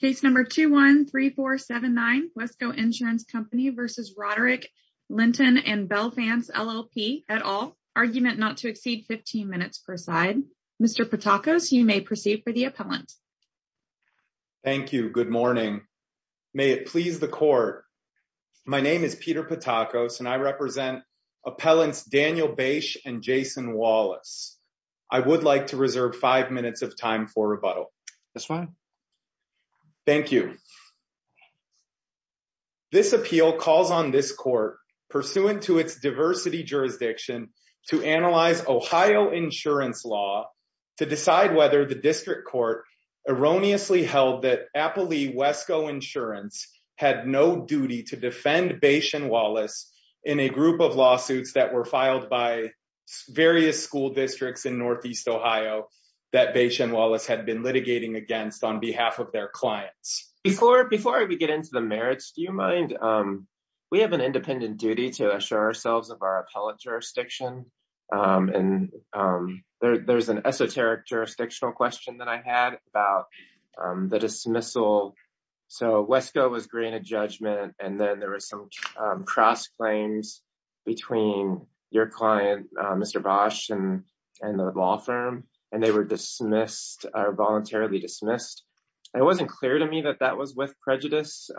Case number 213479 Wesco Insurance Company v. Roderick Linton and Belfance LLP, et al. Argument not to exceed 15 minutes per side. Mr. Patakos, you may proceed for the appellant. Thank you. Good morning. May it please the court. My name is Peter Patakos and I represent appellants Daniel Bache and Jason Wallace. I would like to reserve five minutes of time for rebuttal. That's fine. Thank you. This appeal calls on this court pursuant to its diversity jurisdiction to analyze Ohio insurance law to decide whether the district court erroneously held that Appley Wesco Insurance had no duty to defend Bache and Wallace in a group of lawsuits that were filed by various school districts in Northeast Ohio that Bache and Wallace had been litigating against on behalf of their clients. Before we get into the merits, do you mind? We have an independent duty to assure ourselves of our appellate jurisdiction and there's an esoteric jurisdictional question that I had about the dismissal. So Wesco was granted judgment and then there was some cross claims between your client, Mr. Bache and the law firm and they were dismissed or voluntarily dismissed. It wasn't clear to me that that was with prejudice.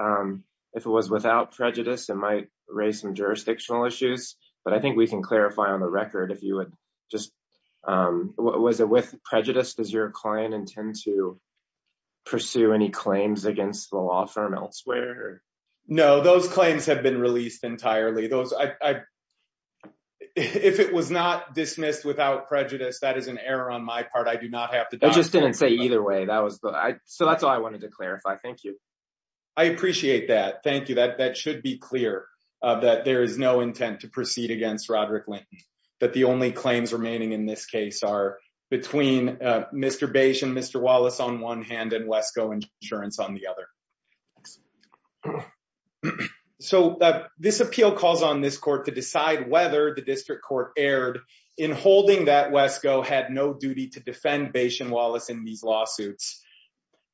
If it was without prejudice, it might raise some jurisdictional issues, but I think we can clarify on the record if you would just, was it with prejudice? Does your client intend to pursue any claims against the law firm elsewhere? No, those claims have been released entirely. If it was not dismissed without prejudice, that is an error on my part. I do not have to- I just didn't say either way. So that's all I wanted to clarify. Thank you. I appreciate that. Thank you. That should be clear that there is no intent to proceed against Roderick Lane, that the only claims remaining in this case are between Mr. Bache and Mr. Wallace on one hand and Wesco Insurance on the other. So this appeal calls on this court to decide whether the district court erred in holding that Wesco had no duty to defend Bache and Wallace in these lawsuits.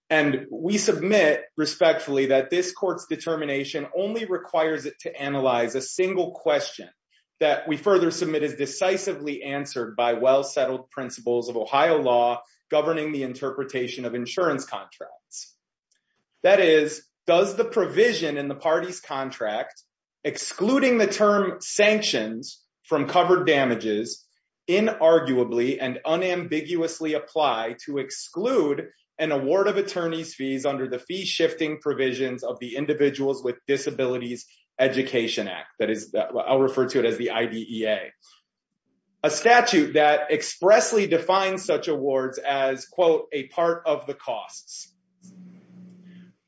And we submit respectfully that this court's determination only requires it to analyze a single question that we further submit is decisively answered by well-settled principles of Ohio law governing the interpretation of insurance contracts. That is, does the provision in the party's contract excluding the term sanctions from covered damages inarguably and unambiguously apply to exclude an award of attorney's fees under the fee-shifting provisions of the Individuals with Disabilities Education Act? That is, I'll refer to it as the IDEA. A statute that expressly defines such awards as, quote, a part of the costs.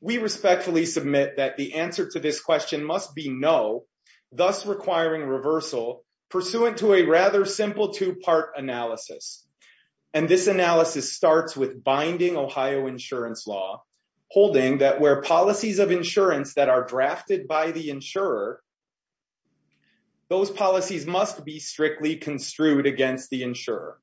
We respectfully submit that the answer to this question must be no, thus requiring reversal pursuant to a rather simple two-part analysis. And this analysis starts with binding Ohio insurance law holding that where policies of insurance that are drafted by the insurer, those policies must be strictly construed against the insurer.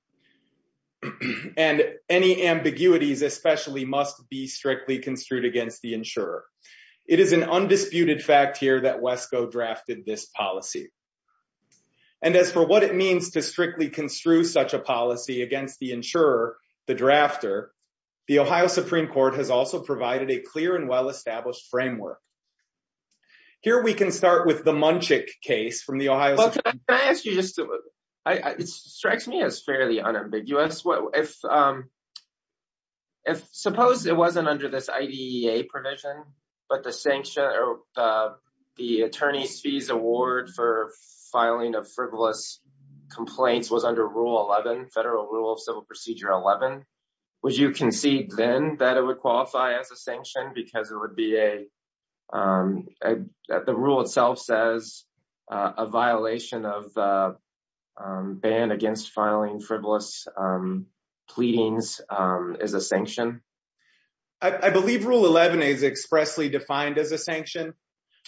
And any ambiguities especially must be strictly construed against the insurer. It is an undisputed fact here that Wesco drafted this policy. And as for what it means to strictly construe such a policy against the insurer, the drafter, the Ohio Supreme Court has also provided a clear and well-established framework. Here we can start with the Munchik case from the Ohio... Well, can I ask you just to, it strikes me as fairly unambiguous. If suppose it wasn't under this IDEA provision, but the sanction or the attorney's fees award for filing of frivolous complaints was under Rule 11, Federal Rule of Civil Procedure 11, would you concede then that it would qualify as a sanction because it would be a the rule itself says a violation of ban against filing frivolous pleadings as a sanction? I believe Rule 11 is expressly defined as a sanction.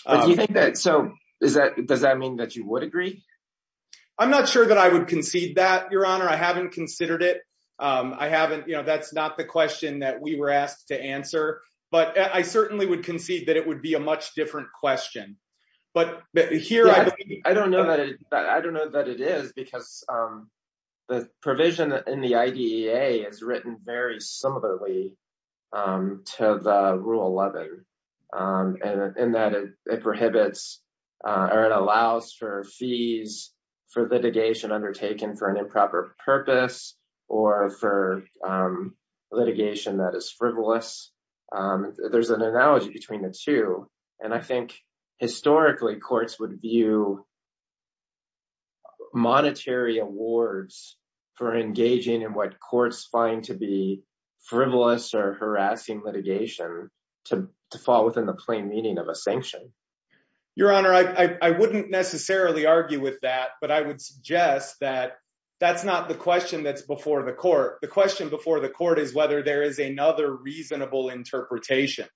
But do you think that, so is that, does that mean that you would agree? I'm not sure that I would concede that, Your Honor. I haven't considered it. I haven't, you know, that's not the question that we were asked to answer. But I certainly would concede that it would be a much different question. But here I believe... I don't know that it, I don't know that it is because the provision in the IDEA is written very similarly to the Rule 11. And in that it prohibits or it allows for fees for litigation undertaken for an improper purpose or for litigation that is frivolous. There's an and I think historically courts would view monetary awards for engaging in what courts find to be frivolous or harassing litigation to fall within the plain meaning of a sanction. Your Honor, I wouldn't necessarily argue with that, but I would suggest that that's not the question that's before the court. The question before the court is whether there is another reasonable interpretation.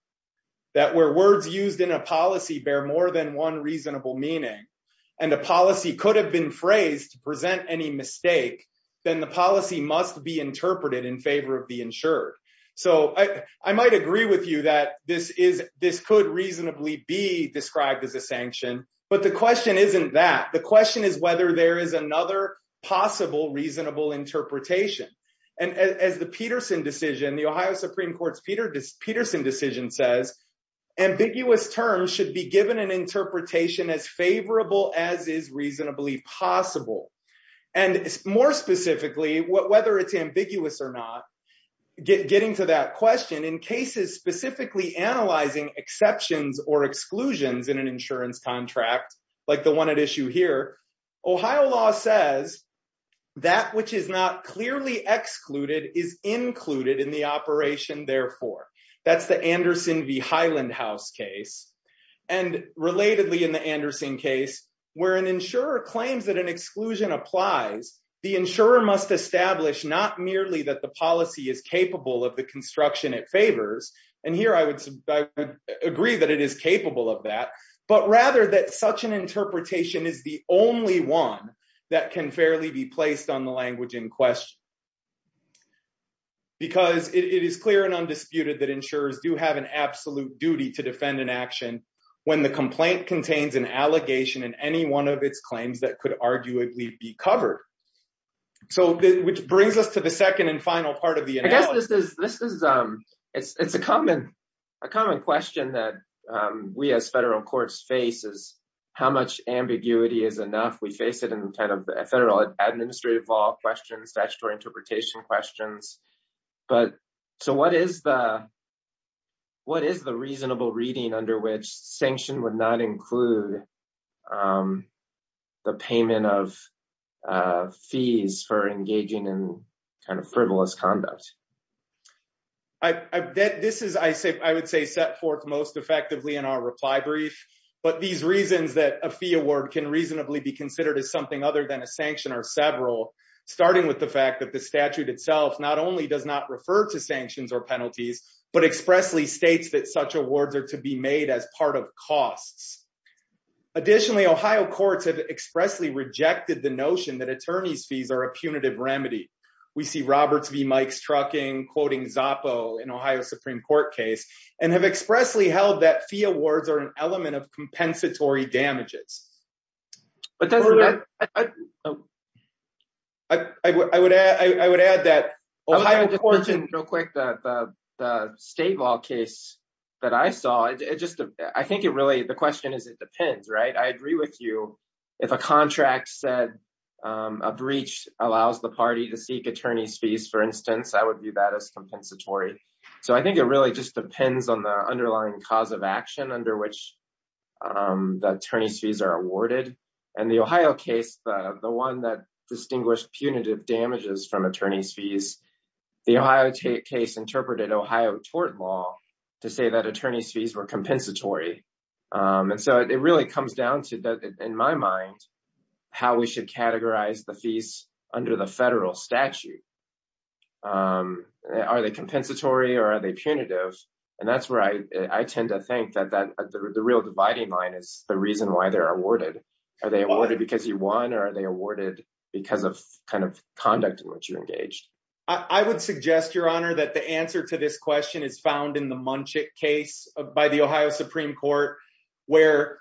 That where words used in a policy bear more than one reasonable meaning and a policy could have been phrased to present any mistake, then the policy must be interpreted in favor of the insured. So I might agree with you that this could reasonably be described as a sanction, but the question isn't that. The question is whether there is another possible reasonable interpretation. And as the Peterson decision, the Ohio Supreme Court's Peterson decision says, ambiguous terms should be given an interpretation as favorable as is reasonably possible. And more specifically, whether it's ambiguous or not, getting to that question in cases specifically analyzing exceptions or exclusions in an insurance contract like the one at issue here, Ohio law says that which is not clearly excluded is included in the operation therefore. That's the Anderson v. Highland House case. And relatedly in the Anderson case, where an insurer claims that an exclusion applies, the insurer must establish not merely that the policy is capable of the construction it favors. And here I would agree that it is is the only one that can fairly be placed on the language in question. Because it is clear and undisputed that insurers do have an absolute duty to defend an action when the complaint contains an allegation in any one of its claims that could arguably be covered. So which brings us to the second and final part of the analysis. This is a common question that we as federal courts face is how much ambiguity is enough? We face it in kind of federal administrative law questions, statutory interpretation questions. What is the reasonable reading under which sanction would not include the payment of fees for engaging in kind of frivolous conduct? I would say set forth most effectively in our reply brief. But these reasons that a fee award can reasonably be considered as something other than a sanction are several, starting with the fact that the statute itself not only does not refer to sanctions or penalties, but expressly that such awards are to be made as part of costs. Additionally, Ohio courts have expressly rejected the notion that attorney's fees are a punitive remedy. We see Roberts v. Mike's trucking quoting Zoppo in Ohio Supreme Court case and have expressly held that fee awards are an element of compensatory damages. I would add that Ohio courts and real quick, the state law that I saw, the question is it depends, right? I agree with you. If a contract said a breach allows the party to seek attorney's fees, for instance, I would view that as compensatory. I think it really just depends on the underlying cause of action under which the attorney's fees are awarded. In the Ohio case, the one that distinguished punitive damages from attorney's fees, the Ohio case interpreted Ohio tort law to say that attorney's fees were compensatory. It really comes down to, in my mind, how we should categorize the fees under the federal statute. Are they compensatory or are they punitive? That's where I tend to think that the real dividing line is the reason why they're awarded. Are they awarded because you engaged? I would suggest, your honor, that the answer to this question is found in the Munchik case by the Ohio Supreme Court where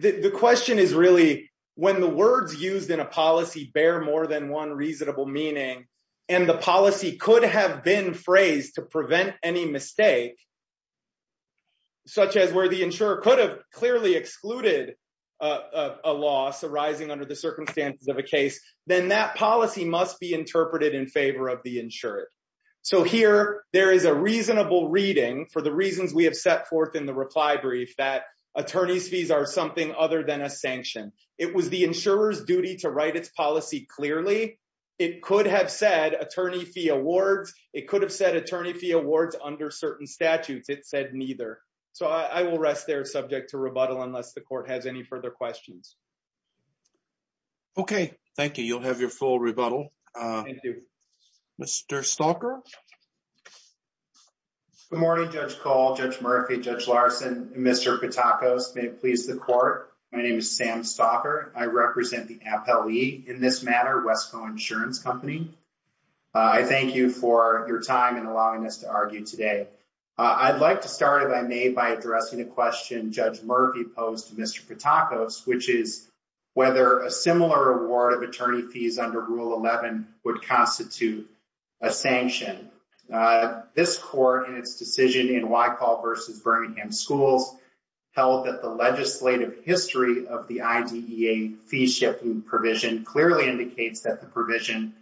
the question is really when the words used in a policy bear more than one reasonable meaning and the policy could have been phrased to prevent any mistake, such as where the insurer could have clearly excluded a loss arising under the circumstances of a case, then that policy must be interpreted in favor of the insured. Here, there is a reasonable reading for the reasons we have set forth in the reply brief that attorney's fees are something other than a sanction. It was the insurer's duty to write its policy clearly. It could have said attorney fee awards. It could have said attorney fee awards under certain statutes. It said neither. I will rest there subject to rebuttal unless the court has any further questions. Okay. Thank you. You'll have your full rebuttal. Mr. Stalker. Good morning, Judge Cole, Judge Murphy, Judge Larson, and Mr. Patakos. May it please the court, my name is Sam Stalker. I represent the Appellee in this matter, Westco Insurance Company. I thank you for your time and allowing us to argue today. I'd like to start, if I may, by addressing a question Judge Murphy posed to Mr. Patakos, which is whether a similar award of attorney fees under Rule 11 would constitute a sanction. This court, in its decision in Whitehall v. Birmingham Schools, held that the legislative history of the IDEA fee-shifting provision clearly indicates that the provision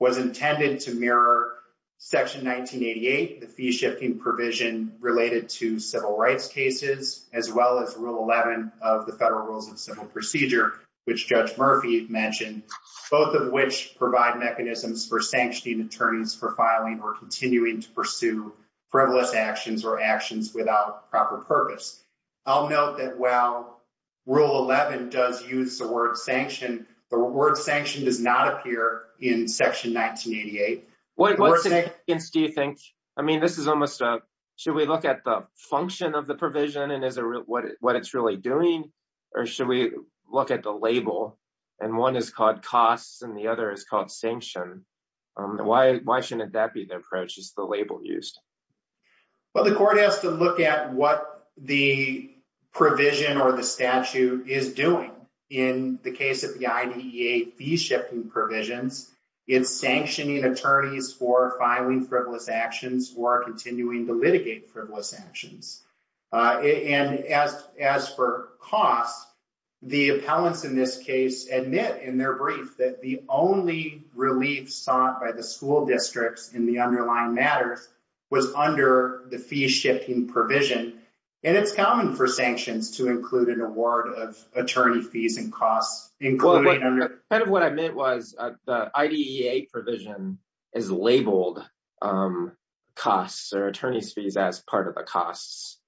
was intended to mirror Section 1988, the fee-shifting provision related to civil rights cases, as well as Rule 11 of the Federal Rules of Civil Procedure, which Judge Murphy mentioned, both of which provide mechanisms for sanctioning attorneys for filing or continuing to pursue frivolous actions or actions without proper purpose. I'll note that while Rule 11 does use the word sanction, the word sanction does not in Section 1988. Should we look at the function of the provision and what it's really doing, or should we look at the label? One is called costs and the other is called sanction. Why shouldn't that be the approach, just the label used? The court has to look at what the provision or the statute is doing in the case of the IDEA fee-shifting provisions. It's sanctioning attorneys for filing frivolous actions or continuing to litigate frivolous actions. As for costs, the appellants in this case admit in their brief that the only relief sought by the school districts in the underlying matters was under the fee-shifting provision. It's common for sanctions to include an award of $100,000. The IDEA provision is labeled costs or attorney's fees as part of the costs,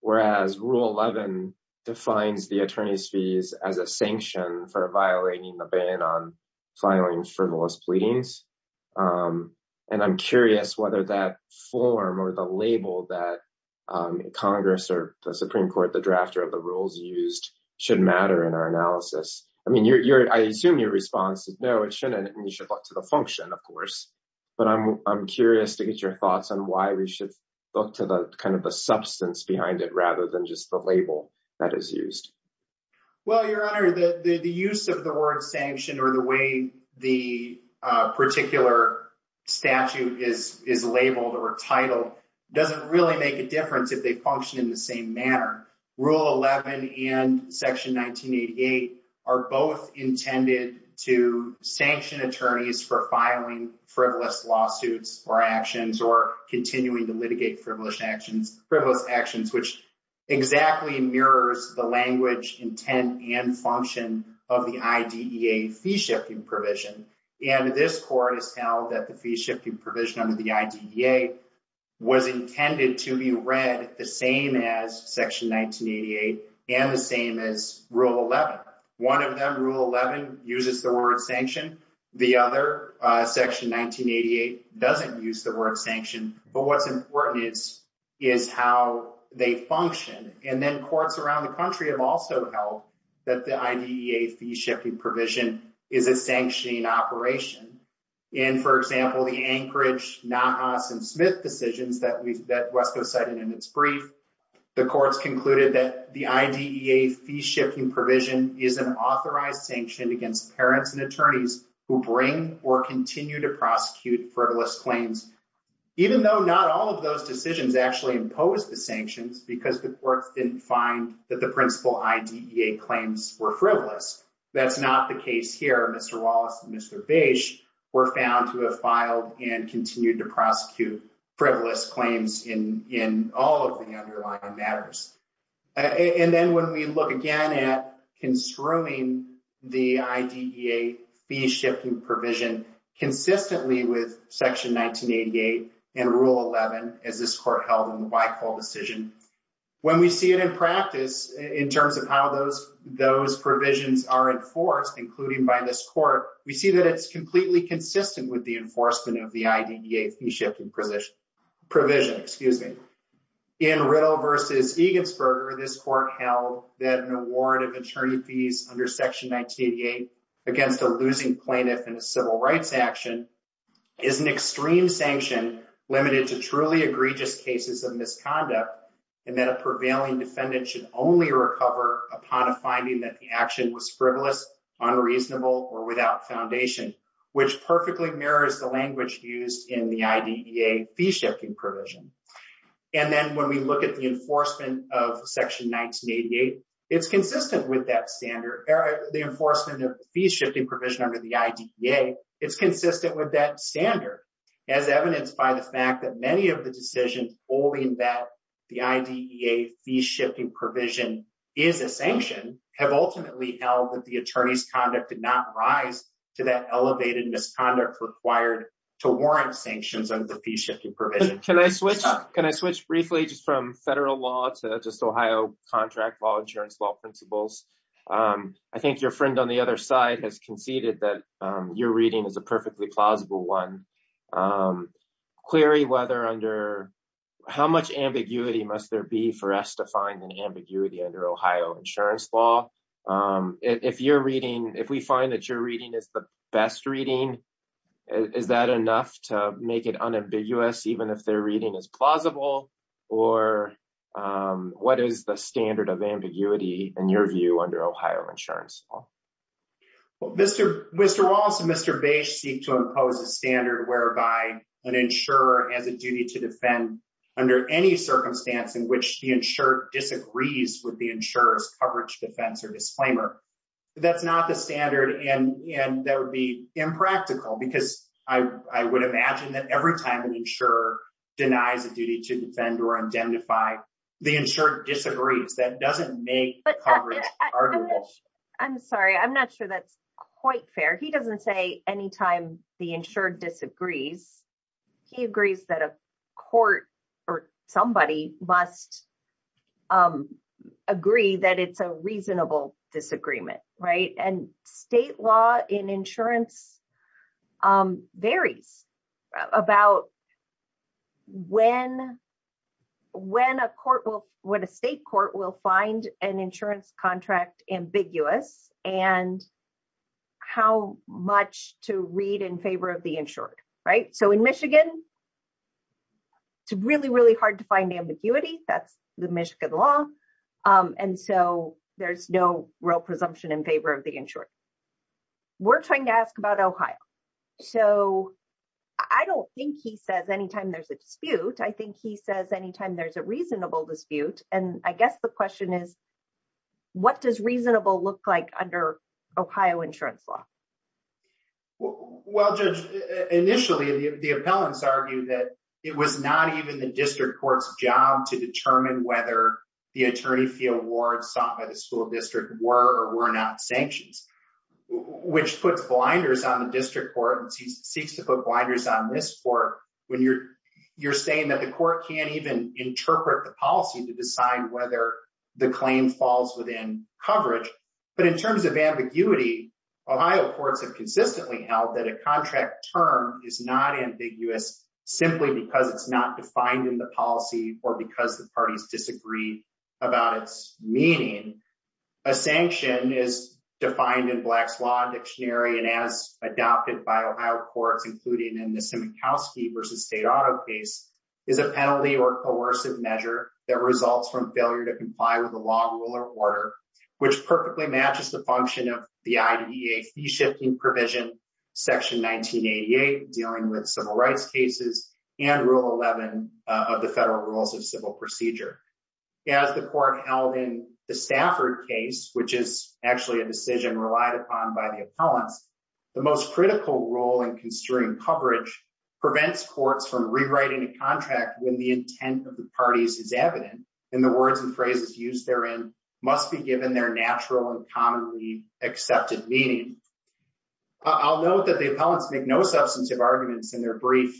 whereas Rule 11 defines the attorney's fees as a sanction for violating the ban on filing frivolous pleadings. I'm curious whether that form or the label that Congress or the Supreme Court, the drafter of the rules used, should matter in our analysis. I assume your response is no, it shouldn't, and you should look to the function, of course. But I'm curious to get your thoughts on why we should look to the substance behind it rather than just the label that is used. Well, Your Honor, the use of the word sanction or the way the particular statute is labeled or titled doesn't really make a difference if they function in the same manner. Rule 11 and Section 1988 are both intended to sanction attorneys for filing frivolous lawsuits or actions or continuing to litigate frivolous actions, which exactly mirrors the language, intent, and function of the IDEA fee-shifting provision. And this Court has held that the and the same as Rule 11. One of them, Rule 11, uses the word sanction. The other, Section 1988, doesn't use the word sanction. But what's important is how they function. And then courts around the country have also held that the IDEA fee-shifting provision is a sanctioning operation. In, for example, the Anchorage, Nahas, and Smith decisions that West Coast cited in its brief, the courts concluded that the IDEA fee-shifting provision is an authorized sanction against parents and attorneys who bring or continue to prosecute frivolous claims, even though not all of those decisions actually impose the sanctions because the courts didn't find that the principal IDEA claims were frivolous. That's not the case here. Mr. Wallace and Mr. were found to have filed and continued to prosecute frivolous claims in all of the underlying matters. And then when we look again at construing the IDEA fee-shifting provision, consistently with Section 1988 and Rule 11, as this Court held in the Whitehall decision, when we see it in practice, in terms of how those provisions are enforced, including by this Court, we see that it's completely consistent with the enforcement of the IDEA fee-shifting provision. In Riddle v. Egensberger, this Court held that an award of attorney fees under Section 1988 against a losing plaintiff in a civil rights action is an extreme sanction limited to truly egregious cases of misconduct, and that a prevailing defendant should only which perfectly mirrors the language used in the IDEA fee-shifting provision. And then when we look at the enforcement of Section 1988, it's consistent with that standard, the enforcement of the fee-shifting provision under the IDEA, it's consistent with that standard, as evidenced by the fact that many of the decisions holding that the IDEA fee-shifting provision is a sanction have ultimately held that the attorney's conduct did not rise to that elevated misconduct required to warrant sanctions under the fee-shifting provision. Can I switch briefly just from federal law to just Ohio contract law, insurance law principles? I think your friend on the other side has conceded that your reading is a perfectly plausible one. Clary, how much ambiguity must there be for us to find an ambiguity under Ohio insurance law? If we find that your reading is the best reading, is that enough to make it unambiguous even if their reading is plausible? Or what is the standard of ambiguity in your view under Ohio insurance law? Well, Mr. Wallace and Mr. Bache seek to impose a standard whereby an insurer has a duty to defend under any circumstance in which the insurer disagrees with the insurer's coverage, defense, or disclaimer. That's not the standard and that would be impractical because I would imagine that every time an insurer denies a duty to defend or identify, the insurer disagrees. That doesn't make coverage arguable. I'm sorry, I'm not sure that's quite fair. He doesn't say anytime the insured disagrees. He agrees that a court or somebody must agree that it's a reasonable disagreement. State law in insurance varies about when a state court will find an insurance contract ambiguous and how much to read in favor of the insured. In Michigan, it's really, really hard to find ambiguity. That's the Michigan law. There's no real presumption in favor of the insured. We're trying to ask about Ohio. I don't think he says anytime there's a dispute. I think he says anytime there's a reasonable dispute. I guess the question is, what does reasonable look like under Ohio insurance law? Well, Judge, initially the appellants argued that it was not even the district court's job to determine whether the attorney fee awards sought by the school district were or were not sanctions, which puts blinders on the district court and seeks to put blinders on this court when you're saying that the court can't even interpret the policy to decide whether the claim falls within coverage. But in terms of ambiguity, Ohio courts have consistently held that a contract term is not ambiguous simply because it's not defined in the policy or because the parties disagree about its meaning. A sanction is defined in Black's Law Dictionary and as adopted by Ohio courts, including in the Simikowski v. State Auto case, is a penalty or coercive measure that results from failure to comply with the law, rule, or order, which perfectly matches the function of the IDEA fee-shifting provision, Section 1988 dealing with civil rights cases, and Rule 11 of the Federal Rules of Civil Procedure. As the court held in the Stafford case, which is actually a decision relied upon by the appellants, the most critical role in construing coverage prevents courts from rewriting a contract when the intent of the parties is evident and the words and phrases used therein must be given their natural and commonly accepted meaning. I'll note that the appellants make no substantive arguments in their brief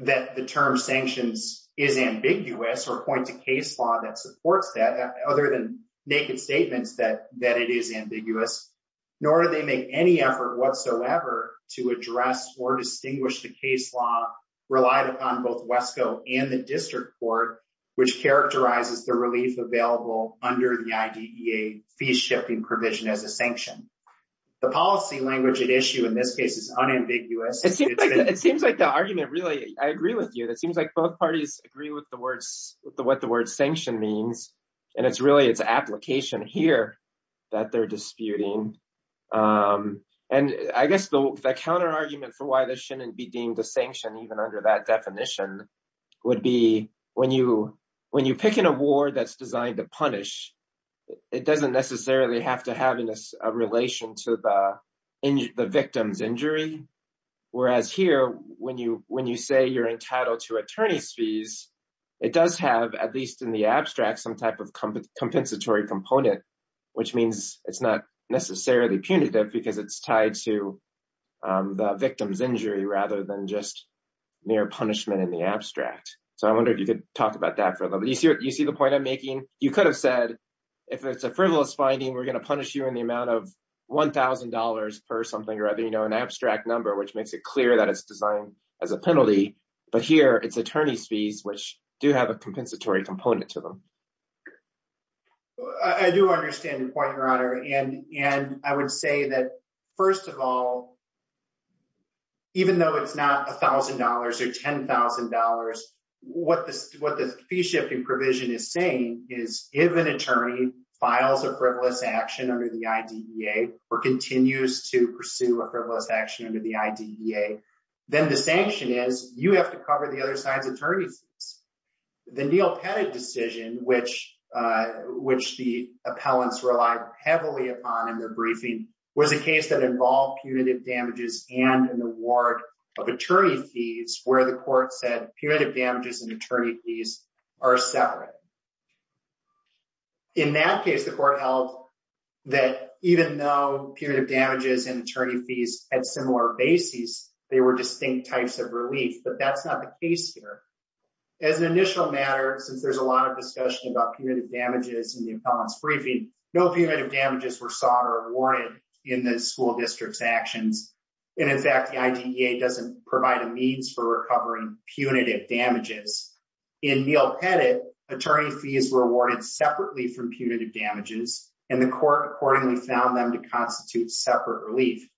that the term sanctions is ambiguous or point to case law that supports that other than naked statements that that it is ambiguous, nor do they make any effort whatsoever to address or distinguish the case law relied upon both WESCO and the district court, which characterizes the relief available under the IDEA fee-shifting provision as a sanction. The policy language at issue in this case is unambiguous. It seems like the argument really, I agree with you, it seems like both parties agree with the words, what the word sanction means, and it's really application here that they're disputing. And I guess the counter argument for why this shouldn't be deemed a sanction even under that definition would be when you pick an award that's designed to punish, it doesn't necessarily have to have a relation to the victim's injury. Whereas here, when you say you're entitled to attorney's fees, it does have, at least in the abstract, some type of compensatory component, which means it's not necessarily punitive because it's tied to the victim's injury rather than just mere punishment in the abstract. So I wonder if you could talk about that further. You see the point I'm making? You could have said if it's a frivolous finding, we're going to punish you in the amount of $1,000 per something or other, an abstract number, which makes it clear that it's designed as a penalty. But here it's a compensatory component to them. I do understand the point, Your Honor. And I would say that, first of all, even though it's not $1,000 or $10,000, what the fee-shifting provision is saying is if an attorney files a frivolous action under the IDEA or continues to pursue a frivolous action under the IDEA, then the sanction is you have to cover the other side's attorney fees. The Neil Pettit decision, which the appellants relied heavily upon in their briefing, was a case that involved punitive damages and an award of attorney fees where the court said punitive damages and attorney fees are separate. In that case, the court held that even though punitive damages and attorney fees had similar bases, they were distinct types of relief. But that's not the case here. As an initial matter, since there's a lot of discussion about punitive damages in the appellant's briefing, no punitive damages were sought or awarded in the school district's actions. And in fact, the IDEA doesn't provide a means for recovering punitive damages. In Neil Pettit, attorney fees were awarded separately from punitive damages, and the court accordingly found them to constitute separate relief.